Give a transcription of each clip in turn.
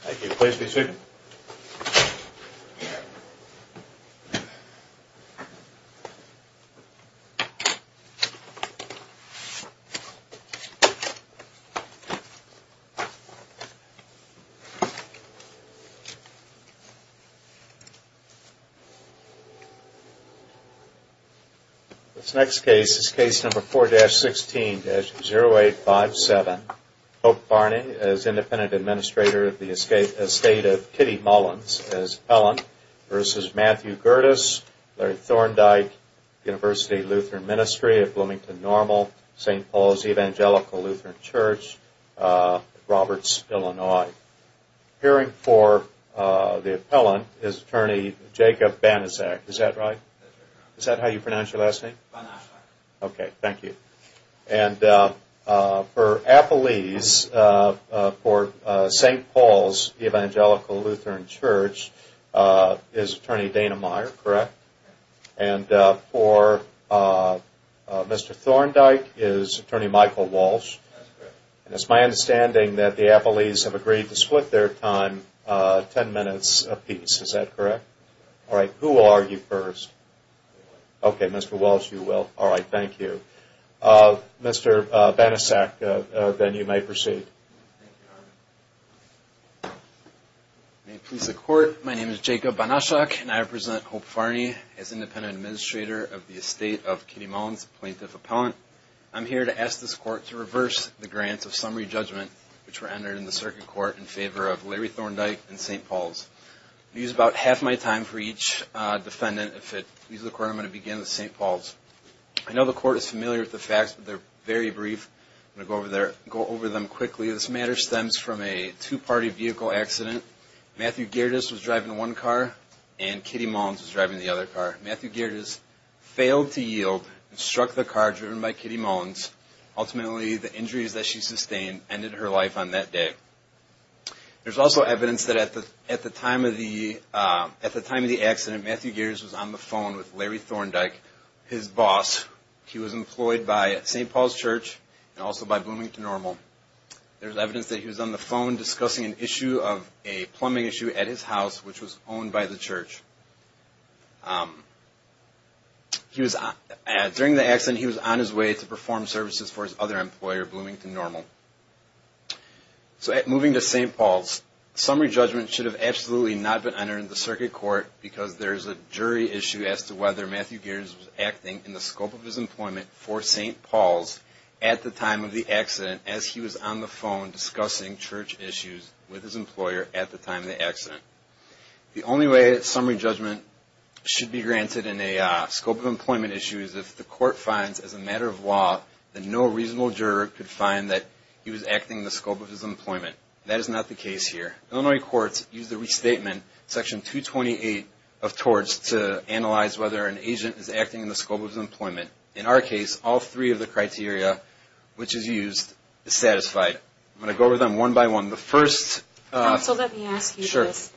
Thank you. Please be seated. This next case is case number 4-16-0857 Pope Barney as Independent Administrator of the Estate of Kitty Mullins as Appellant versus Matthew Gerdes, Larry Thorndike, University of Lutheran Ministry of Bloomington Normal, St. Paul's Evangelical Lutheran Church, Roberts, Illinois. Appearing for the Appellant is Attorney Jacob Banaszak. Is that right? Is that how you pronounce your last name? Okay, thank you. And for Appellees, for St. Paul's Evangelical Lutheran Church is Attorney Dana Meyer, correct? And for Mr. Thorndike is Attorney Michael Walsh. And it's my understanding that the Appellees have agreed to split their time ten minutes apiece. Is that correct? Alright, who will argue first? Okay, Mr. Walsh, you will. Alright, thank you. Mr. Banaszak, then you may proceed. May it please the Court, my name is Jacob Banaszak and I represent Pope Barney as Independent Administrator of the Estate of Kitty Mullins, Plaintiff Appellant. I'm here to ask this Court to reverse the grants of summary judgment which were entered in the Circuit Court in favor of Larry Thorndike and St. Paul's. I'm going to use about half my time for each defendant. If it pleases the Court, I'm going to begin with St. Paul's. I know the Court is familiar with the facts, but they're very brief. I'm going to go over them quickly. This matter stems from a two-party vehicle accident. Matthew Gerdes was driving one car and Kitty Mullins was driving the other car. Matthew Gerdes failed to yield and struck the car driven by Kitty Mullins. Ultimately, the injuries that she sustained ended her life on that day. There's also evidence that at the time of the accident, Matthew Gerdes was on the phone with Larry Thorndike, his boss. He was employed by St. Paul's Church and also by Bloomington Normal. There's evidence that he was on the phone discussing an issue of a plumbing issue at his house which was owned by the church. During the accident, he was on his way to perform services for his other employer, Bloomington Normal. Moving to St. Paul's. Summary judgment should have absolutely not been entered in the circuit court because there's a jury issue as to whether Matthew Gerdes was acting in the scope of his employment for St. Paul's at the time of the accident as he was on the phone discussing church issues with his employer at the time of the accident. The only way that summary judgment should be granted in a scope of employment issue is if the court finds as a matter of law that no reasonable juror could find that he was acting in the scope of his employment. That is not the case here. Illinois courts use the restatement, section 228 of torts, to analyze whether an agent is acting in the scope of his employment. In our case, all three of the criteria which is used is satisfied. I'm going to go over them one by one. So let me ask you this.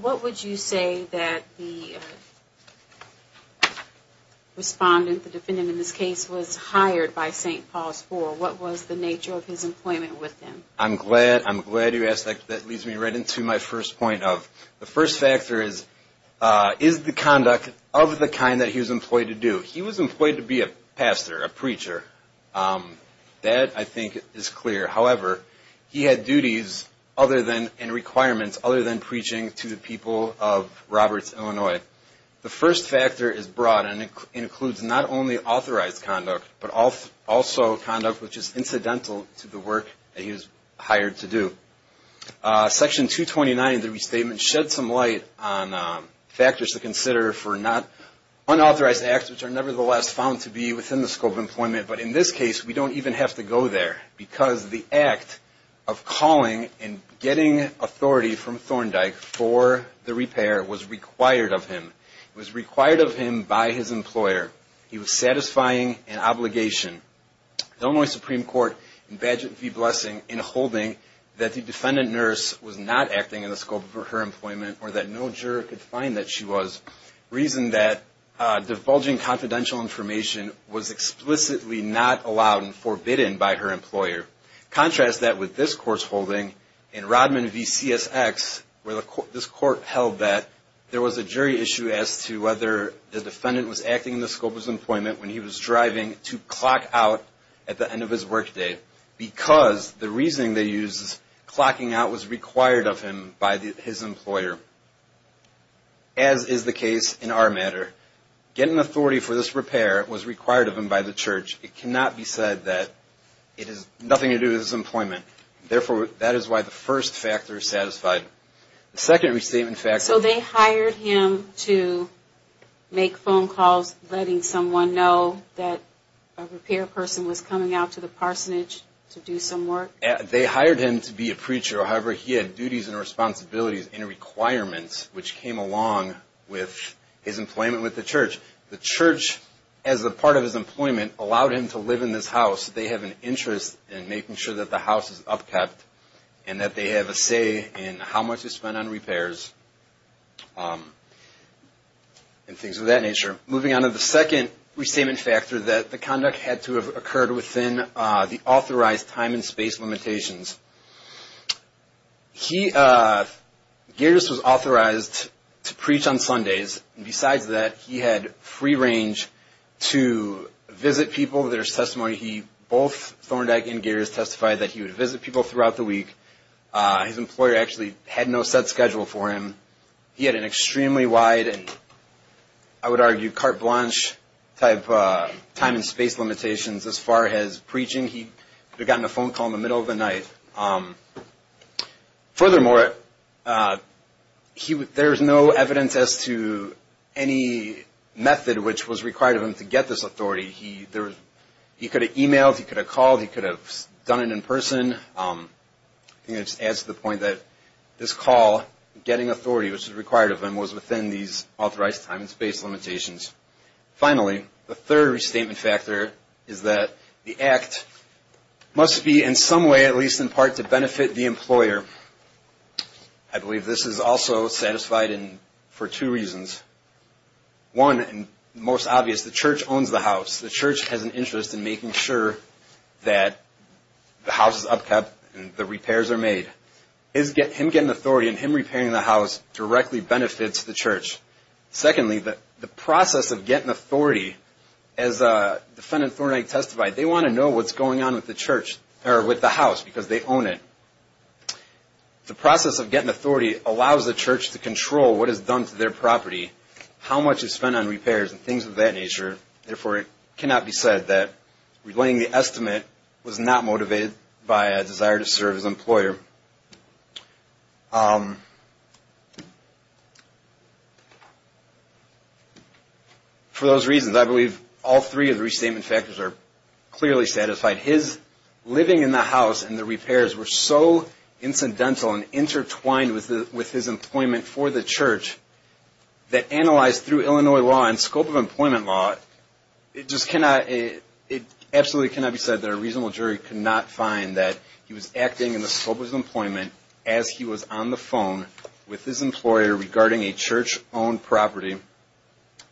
What would you say that the respondent, the defendant in this case, was hired by St. Paul's for? What was the nature of his employment with him? I'm glad you asked that. That leads me right into my first point of the first factor is, is the conduct of the kind that he was employed to do? He was employed to be a pastor, a preacher. That, I think, is clear. However, he had duties and requirements other than preaching to the people of Roberts, Illinois. The first factor is broad and includes not only authorized conduct, but also conduct which is incidental to the work that he was hired to do. Section 229 of the restatement sheds some light on factors to consider for unauthorized acts which are nevertheless found to be within the scope of employment. But in this case, we don't even have to go there because the act of calling and getting authority from Thorndike for the repair was required of him. It was required of him by his employer. He was satisfying an obligation. The Illinois Supreme Court in Badger v. Blessing in holding that the defendant nurse was not acting in the scope of her employment or that no juror could find that she was, reasoned that divulging confidential information was explicitly not allowed and forbidden by her employer. Contrast that with this court's holding in Rodman v. CSX where this court held that there was a jury issue as to whether the defendant was acting in the scope of his employment when he was driving to clock out at the end of his workday because the reasoning they used is clocking out was required of him by his employer. As is the case in our matter, getting authority for this repair was required of him by the church. It cannot be said that it has nothing to do with his employment. Therefore, that is why the first factor is satisfied. The second restatement factor... So they hired him to make phone calls letting someone know that a repair person was coming out to the parsonage to do some work? They hired him to be a preacher. However, he had duties and responsibilities and requirements which came along with his employment with the church. The church, as a part of his employment, allowed him to live in this house. They have an interest in making sure that the house is upkept and that they have a say in how much is spent on repairs and things of that nature. Moving on to the second restatement factor, that the conduct had to have occurred within the authorized time and space limitations. He...Garris was authorized to preach on Sundays. Besides that, he had free range to visit people. There's testimony he...both Thorndike and Garris testified that he would visit people throughout the week. His employer actually had no set schedule for him. He had an extremely wide and, I would argue, carte blanche type time and space limitations as far as preaching. He had gotten a phone call in the middle of the night. Furthermore, there's no evidence as to any method which was required of him to get this authority. He could have emailed, he could have called, he could have done it in person. I think it adds to the point that this call, getting authority which was required of him, was within these authorized time and space limitations. Finally, the third restatement factor is that the act must be in some way, at least in part, to benefit the employer. I believe this is also satisfied for two reasons. One, and most obvious, the church owns the house. The church has an interest in making sure that the house is upkept and the repairs are made. Him getting authority and him repairing the house directly benefits the church. Secondly, the process of getting authority, as Defendant Thorndike testified, they want to know what's going on with the house because they own it. The process of getting authority allows the church to control what is done to their property, how much is spent on repairs and things of that nature. Therefore, it cannot be said that relaying the estimate was not motivated by a desire to serve as an employer. For those reasons, I believe all three of the restatement factors are clearly satisfied. His living in the house and the repairs were so incidental and intertwined with his employment for the church that analyzed through Illinois law and scope of employment law, it absolutely cannot be said that a reasonable jury could not find that he was acting in the scope of his employment as he was on the phone with his employer regarding a church-owned property.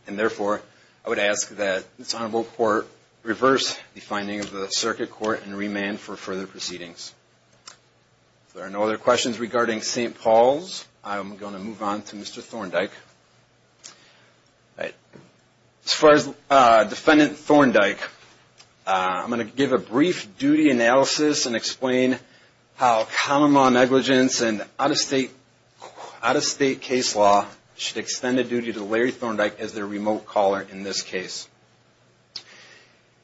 Therefore, I would ask that this Honorable Court reverse the finding of the circuit court and remand for further proceedings. If there are no other questions regarding St. Paul's, I'm going to move on to Mr. Thorndike. As far as Defendant Thorndike, I'm going to give a brief duty analysis and explain how common law negligence and out-of-state case law should extend a duty to Larry Thorndike as their remote caller in this case.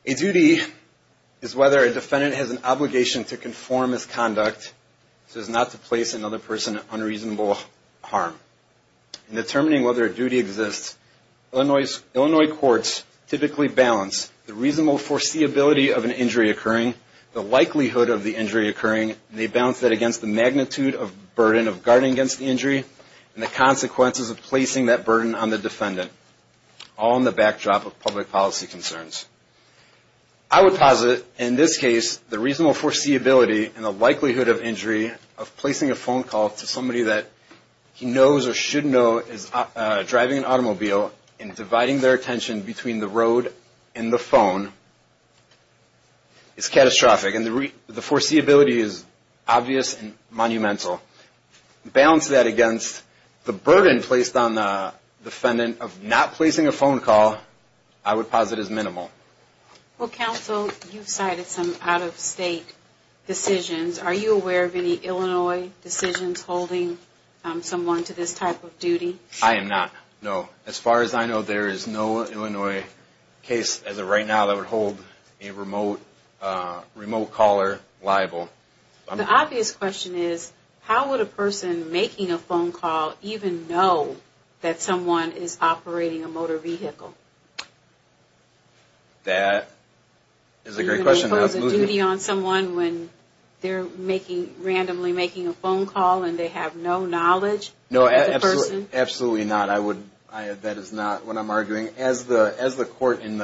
A duty is whether a defendant has an obligation to conform his conduct, so as not to place another person in unreasonable harm. In determining whether a duty exists, Illinois courts typically balance the reasonable foreseeability of an injury occurring, the likelihood of the injury occurring, and they balance that against the magnitude of burden of guarding against the injury and the consequences of placing that burden on the defendant, all in the backdrop of public policy concerns. I would posit, in this case, the reasonable foreseeability and the likelihood of injury of placing a phone call to somebody that he knows or should know is driving an automobile and dividing their attention between the road and the phone is catastrophic, and the foreseeability is obvious and monumental. Balance that against the burden placed on the defendant of not placing a phone call, I would posit as minimal. Well, counsel, you've cited some out-of-state decisions. Are you aware of any Illinois decisions holding someone to this type of duty? I am not, no. As far as I know, there is no Illinois case as of right now that would hold a remote caller liable. The obvious question is, how would a person making a phone call even know that someone is operating a motor vehicle? That is a great question. Do they pose a duty on someone when they're randomly making a phone call and they have no knowledge of the person? No, absolutely not. That is not what I'm arguing. I'm arguing, as the court in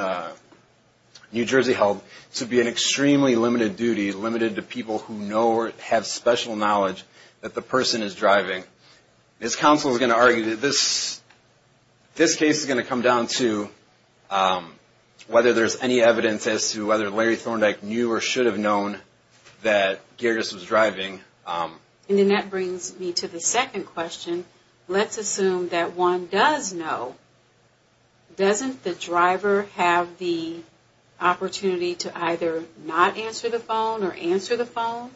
New Jersey held, to be an extremely limited duty, limited to people who know or have special knowledge that the person is driving. This counsel is going to argue that this case is going to come down to whether there's any evidence as to whether Larry Thorndike knew or should have known that Gerdes was driving. Then that brings me to the second question. Let's assume that one does know. Doesn't the driver have the opportunity to either not answer the phone or answer the phone?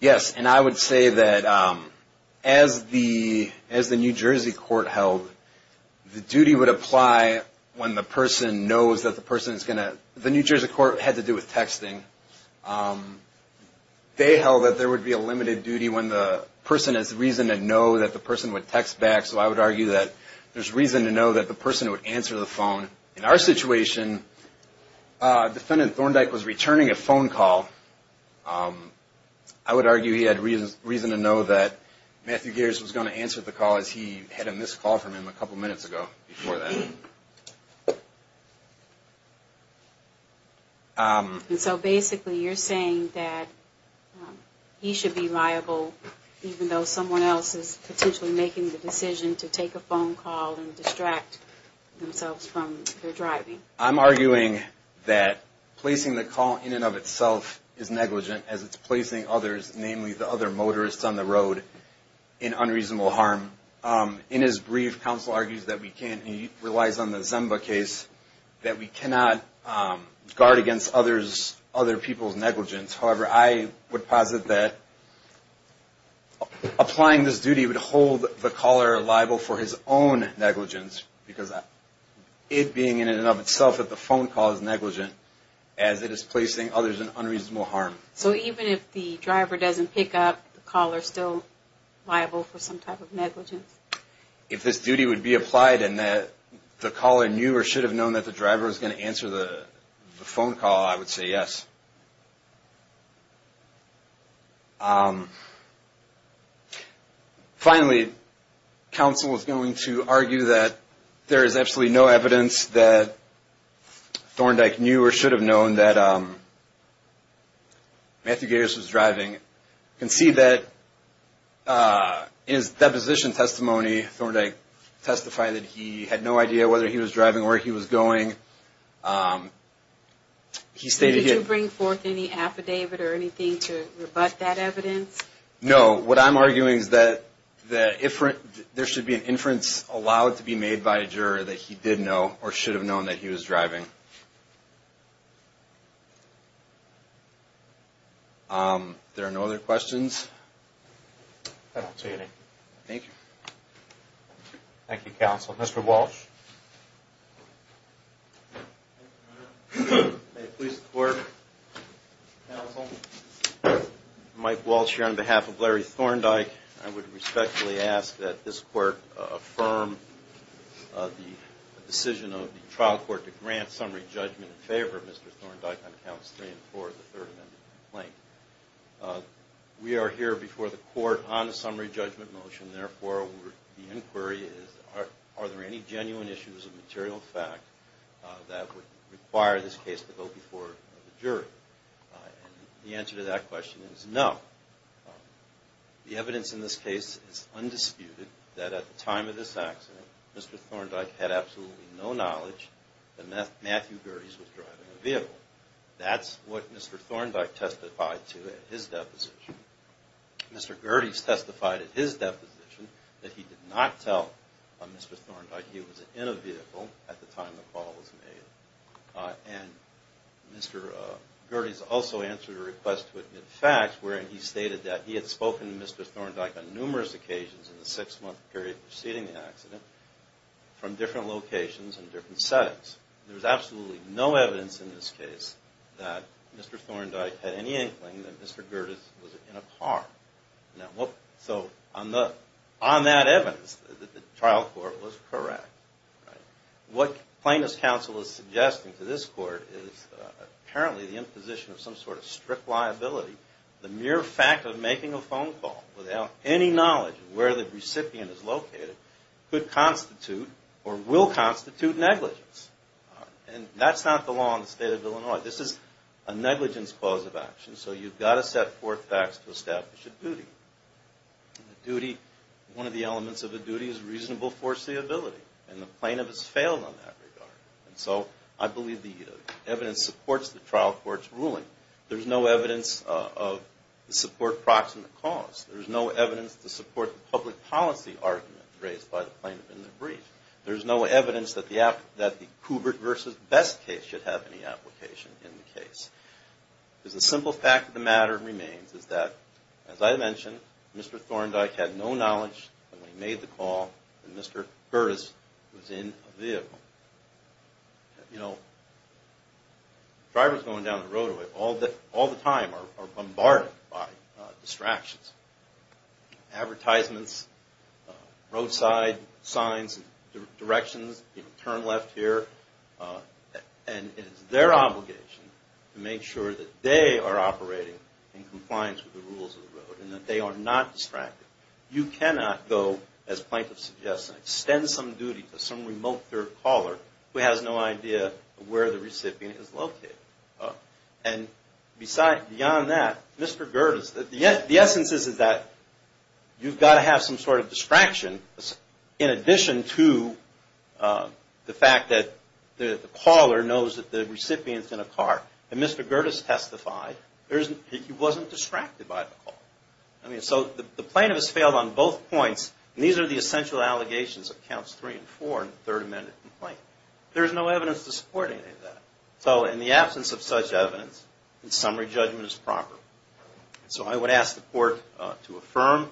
Yes, and I would say that as the New Jersey court held, the duty would apply when the person knows that the person is going to... They held that there would be a limited duty when the person has reason to know that the person would text back. So I would argue that there's reason to know that the person would answer the phone. In our situation, defendant Thorndike was returning a phone call. I would argue he had reason to know that Matthew Gerdes was going to answer the call as he had a missed call from him a couple minutes ago. And so basically you're saying that he should be liable even though someone else is potentially making the decision to take a phone call and distract themselves from their driving. I'm arguing that placing the call in and of itself is negligent as it's placing others, namely the other motorists on the road, in unreasonable harm. In his brief, counsel argues that we can't, he relies on the Zimba case, that we cannot guard against other people's negligence. However, I would posit that applying this duty would hold the caller liable for his own negligence because it being in and of itself that the phone call is negligent as it is placing others in unreasonable harm. So even if the driver doesn't pick up, the caller is still liable for some type of negligence? If this duty would be applied and the caller knew or should have known that the driver was going to answer the phone call, I would say yes. Finally, counsel is going to argue that there is absolutely no evidence that Thorndike knew or should have known that Matthew Gators was driving. You can see that in his deposition testimony, Thorndike testified that he had no idea whether he was driving or where he was going. Did you bring forth any affidavit or anything to rebut that evidence? No, what I'm arguing is that there should be an inference allowed to be made by a juror that he did know or should have known that he was driving. There are no other questions? I don't see any. Thank you. Thank you, counsel. Mr. Walsh? May it please the court, counsel, Mike Walsh here on behalf of Larry Thorndike. I would respectfully ask that this court affirm the decision of the trial court to grant summary judgment in favor of Mr. Thorndike on counts three and four of the Third Amendment complaint. We are here before the court on a summary judgment motion. Therefore, the inquiry is are there any genuine issues of material fact that would require this case to go before the jury? The answer to that question is no. The evidence in this case is undisputed that at the time of this accident, Mr. Thorndike had absolutely no knowledge that Matthew Gators was driving a vehicle. That's what Mr. Thorndike testified to at his deposition. Mr. Gerdes testified at his deposition that he did not tell Mr. Thorndike he was in a vehicle at the time the call was made. And Mr. Gerdes also answered a request to admit facts wherein he stated that he had spoken to Mr. Thorndike on numerous occasions in the six-month period preceding the accident from different locations and different settings. There is absolutely no evidence in this case that Mr. Thorndike had any inkling that Mr. Gerdes was in a car. So on that evidence, the trial court was correct. What plaintiff's counsel is suggesting to this court is apparently the imposition of some sort of strict liability. The mere fact of making a phone call without any knowledge of where the recipient is located could constitute or will constitute negligence. And that's not the law in the state of Illinois. This is a negligence clause of action, so you've got to set forth facts to establish a duty. One of the elements of a duty is reasonable foreseeability, and the plaintiff has failed on that regard. And so I believe the evidence supports the trial court's ruling. There's no evidence to support proximate cause. There's no evidence to support the public policy argument raised by the plaintiff in the brief. There's no evidence that the Kubert v. Best case should have any application in the case. The simple fact of the matter remains is that, as I mentioned, Mr. Thorndike had no knowledge when he made the call that Mr. Gerdes was in a vehicle. You know, drivers going down the roadway all the time are bombarded by distractions. Advertisements, roadside signs, directions, turn left here. And it is their obligation to make sure that they are operating in compliance with the rules of the road and that they are not distracted. You cannot go, as plaintiff suggests, and extend some duty to some remote third caller who has no idea where the recipient is located. And beyond that, Mr. Gerdes, the essence is that you've got to have some sort of distraction in addition to the fact that there's a the caller knows that the recipient is in a car. And Mr. Gerdes testified that he wasn't distracted by the call. So the plaintiff has failed on both points, and these are the essential allegations of Counts 3 and 4 in the Third Amendment complaint. There's no evidence to support any of that. So in the absence of such evidence, the summary judgment is proper. So I would ask the court to affirm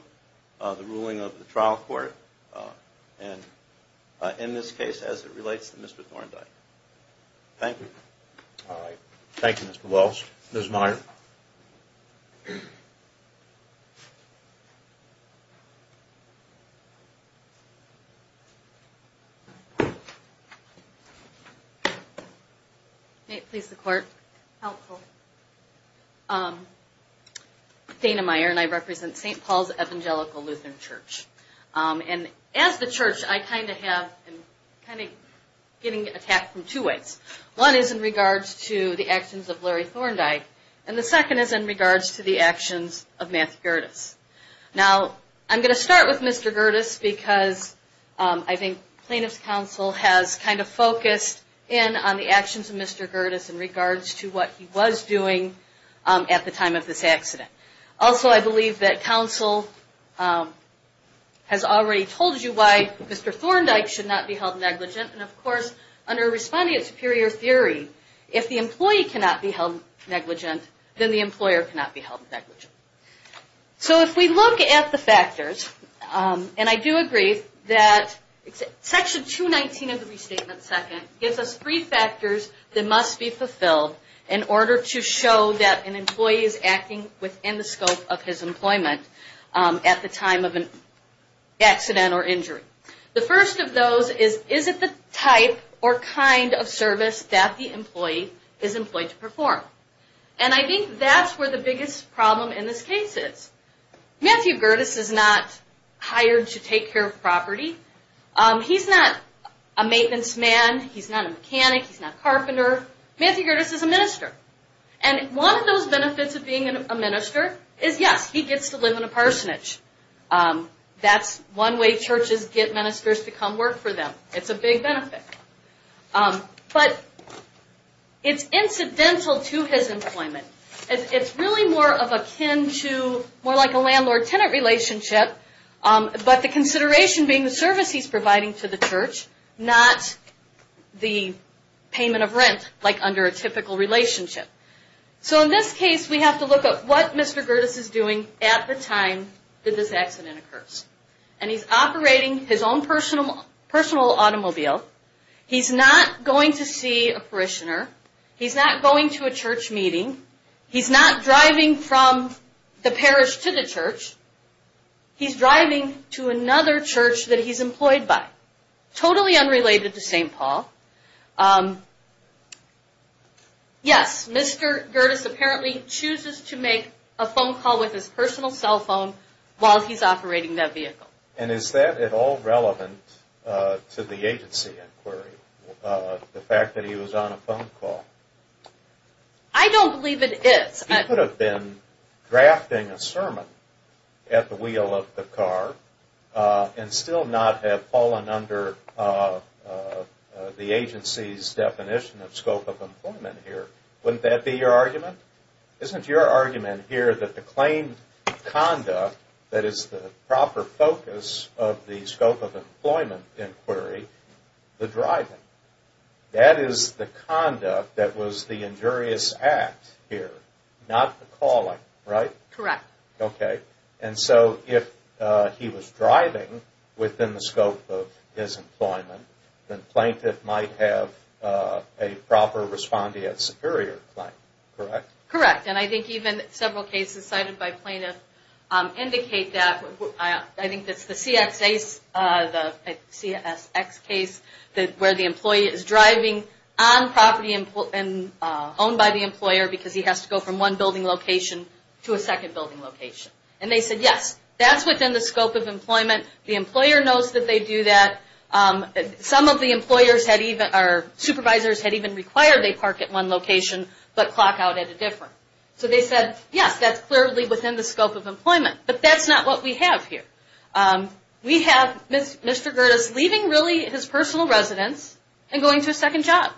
the ruling of the trial court, and in this case, as it relates to Mr. Thorndike. Thank you. All right. Thank you, Mr. Wells. Ms. Meyer. May it please the court? Dana Meyer, and I represent St. Paul's Evangelical Lutheran Church. And as the church, I kind of have, I'm kind of getting attacked from two ways. One is in regards to the actions of Larry Thorndike. And the second is in regards to the actions of Matt Gerdes. Now, I'm going to start with Mr. Gerdes because I think Plaintiff's Counsel has kind of focused in on the actions of Mr. Gerdes in regards to what he was doing at the time of this accident. Also, I believe that Counsel has already told you why Mr. Thorndike should not be held negligent. And of course, under Responding to Superior Theory, if the employee cannot be held negligent, then the employer cannot be held negligent. So if we look at the factors, and I do agree that Section 219 of the Restatement Second gives us three factors that must be fulfilled in order to show that an employee is acting within the scope of his employment at the time of an accident or injury. The first of those is, is it the type or kind of service that the employee is employed to perform? And I think that's where the biggest problem in this case is. Matthew Gerdes is not hired to take care of property. He's not a maintenance man. He's not a mechanic. He's not a carpenter. Matthew Gerdes is a minister. And one of those benefits of being a minister is, yes, he gets to live in a parsonage. That's one way churches get ministers to come work for them. It's a big benefit. But it's incidental to his employment. It's really more of akin to, more like a landlord-tenant relationship, but the consideration being the service he's providing to the church, not the payment of rent, like under a typical relationship. So in this case, we have to look at what Mr. Gerdes is doing at the time that this accident occurs. And he's operating his own personal automobile. He's not going to see a parishioner. He's not going to a church meeting. He's not driving from the parish to the church. He's driving to another church that he's employed by. Totally unrelated to St. Paul. Yes, Mr. Gerdes apparently chooses to make a phone call with his personal cell phone while he's operating that vehicle. And is that at all relevant to the agency inquiry, the fact that he was on a phone call? I don't believe it is. He could have been drafting a sermon at the wheel of the car and still not have fallen under the agency's definition of scope of employment here. Wouldn't that be your argument? Isn't your argument here that the claimed conduct that is the proper focus of the scope of employment inquiry, the driving, that is the conduct that was the injurious act here, not the calling, right? Correct. And so if he was driving within the scope of his employment, the plaintiff might have a proper respondeat superior claim, correct? Correct. And I think even several cases cited by plaintiffs indicate that. I think it's the CSX case where the employee is driving on property owned by the employer because he has to go from one building location to a second building location. And they said yes, that's within the scope of employment. The employer knows that they do that. Some of the supervisors had even required they park at one location but clock out at a different. So they said yes, that's clearly within the scope of employment. But that's not what we have here. We have Mr. Gerdes leaving really his personal residence and going to a second job.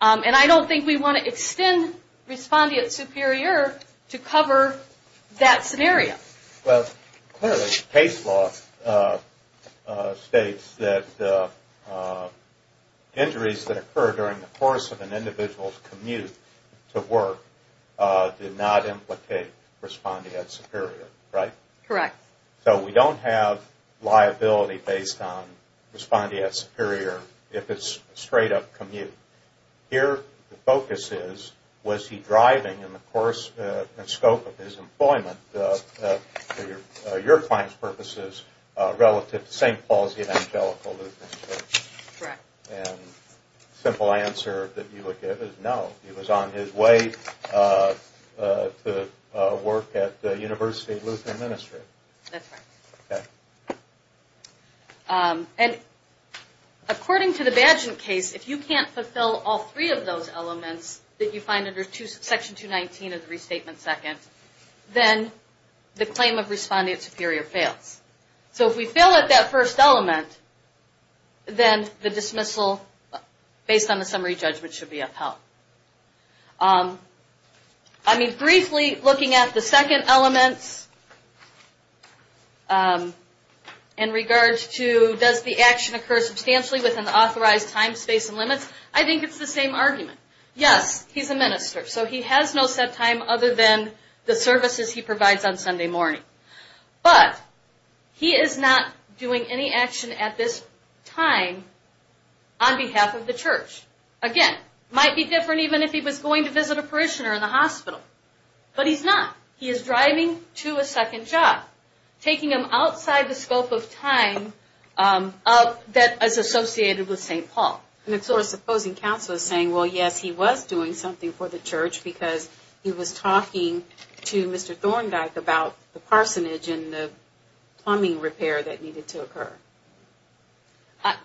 And I don't think we want to extend respondeat superior to cover that scenario. Well, clearly case law states that injuries that occur during the course of an individual's commute to work did not implicate respondeat superior, right? Correct. So we don't have liability based on respondeat superior if it's a straight up commute. Here the focus is, was he driving in the course and scope of his employment for your client's purposes relative to St. Paul's Evangelical Lutheran Church? Correct. And the simple answer that you would give is no. He was on his way to work at the University of Lutheran Ministry. That's right. Okay. And according to the badgent case, if you can't fulfill all three of those elements that you find under section 219 of the restatement second, then the claim of respondeat superior fails. So if we fail at that first element, then the dismissal based on the summary judgment should be upheld. Briefly looking at the second element in regards to does the action occur substantially within the authorized time, space, and limits, I think it's the same argument. Yes, he's a minister. So he has no set time other than the services he provides on Sunday morning. But he is not doing any action at this time on behalf of the church. Again, might be different even if he was going to visit a parishioner in the hospital. But he's not. He is driving to a second job, taking him outside the scope of time that is associated with St. Paul. And it's sort of supposing counsel is saying, well, yes, he was doing something for the church because he was talking to Mr. Thorndike about the parsonage and the plumbing repair that needed to occur.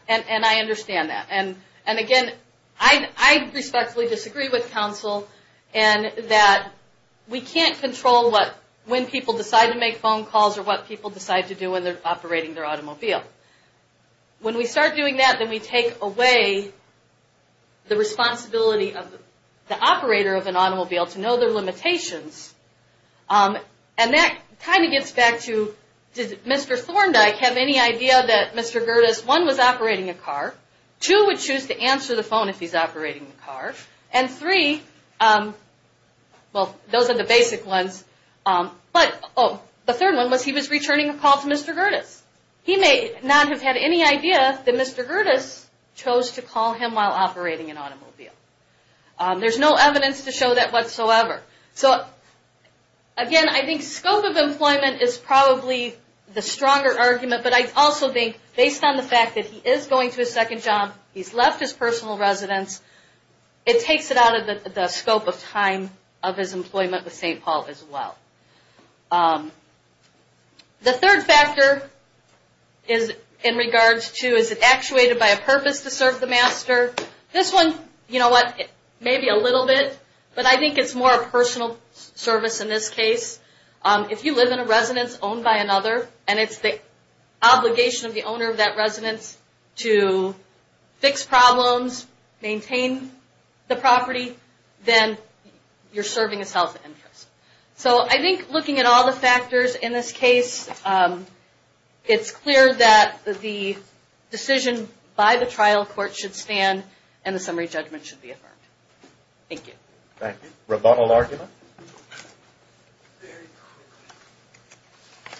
And I understand that. And again, I respectfully disagree with counsel in that we can't control when people decide to make phone calls or what people decide to do when they're operating their automobile. When we start doing that, then we take away the responsibility of the operator of an automobile to know their limitations. And that kind of gets back to, did Mr. Thorndike have any idea that Mr. Gerdes, one, was operating a car. Two, would choose to answer the phone if he's operating the car. And three, well, those are the basic ones. But the third one was he was returning a call to Mr. Gerdes. He may not have had any idea that Mr. Gerdes chose to call him while operating an automobile. There's no evidence to show that whatsoever. So, again, I think scope of employment is probably the stronger argument. But I also think, based on the fact that he is going to a second job, he's left his personal residence, it takes it out of the scope of time of his employment with St. Paul as well. The third factor is in regards to, is it actuated by a purpose to serve the master? This one, you know what, maybe a little bit, but I think it's more a personal service in this case. If you live in a residence owned by another, and it's the obligation of the owner of that residence to fix problems, maintain the property, then you're serving a self-interest. So I think looking at all the factors in this case, it's clear that the decision by the trial court should stand and the summary judgment should be affirmed. Thank you. Thank you. Rebuttal argument?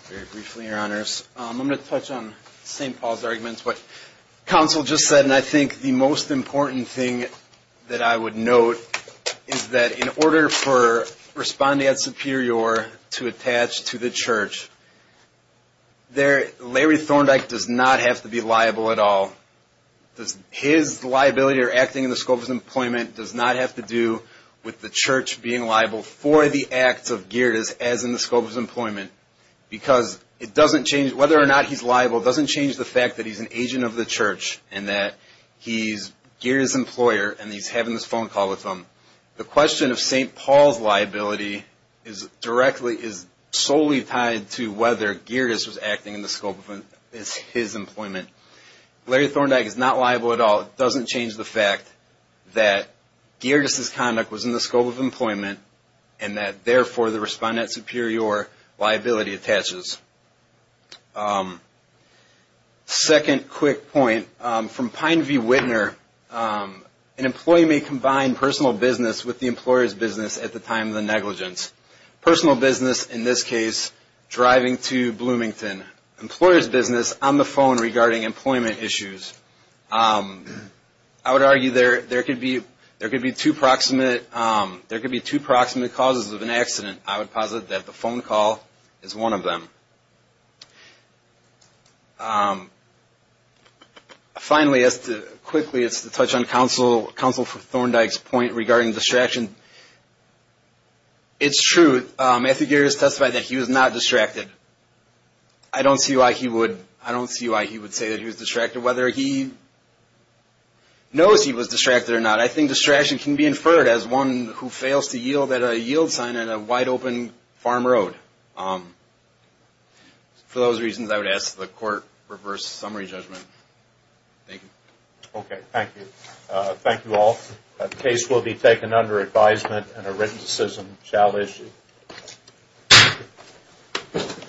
Very briefly, Your Honors. I'm going to touch on St. Paul's arguments. But counsel just said, and I think the most important thing that I would note is that in order for respondeat superior to attach to the church, Larry Thorndike does not have to be liable at all. His liability or acting in the scope of his employment does not have to do with the church being liable for the acts of Gerdes as in the scope of his employment. Whether or not he's liable doesn't change the fact that he's an agent of the church and that he's Gerdes' employer and he's having this phone call with him. The question of St. Paul's liability is solely tied to whether Gerdes was acting in the scope of his employment. Larry Thorndike is not liable at all. It doesn't change the fact that Gerdes' conduct was in the scope of employment and that, therefore, the respondeat superior liability attaches. Second quick point, from Pine v. Wittner, an employee may combine personal business with the employer's business at the time of the negligence. Personal business in this case, driving to Bloomington. Employer's business on the phone regarding employment issues. I would argue there could be two proximate causes of an accident. I would posit that the phone call is one of them. Finally, quickly, it's to touch on counsel Thorndike's point regarding distraction. It's true, Matthew Gerdes testified that he was not distracted. I don't see why he would say that he was distracted, whether he knows he was distracted or not. I think distraction can be inferred as one who fails to yield at a yield sign at a wide open farm road. For those reasons, I would ask that the court reverse the summary judgment. Thank you. Okay, thank you. Thank you all. The case will be taken under advisement and a written decision shall issue. Thank you.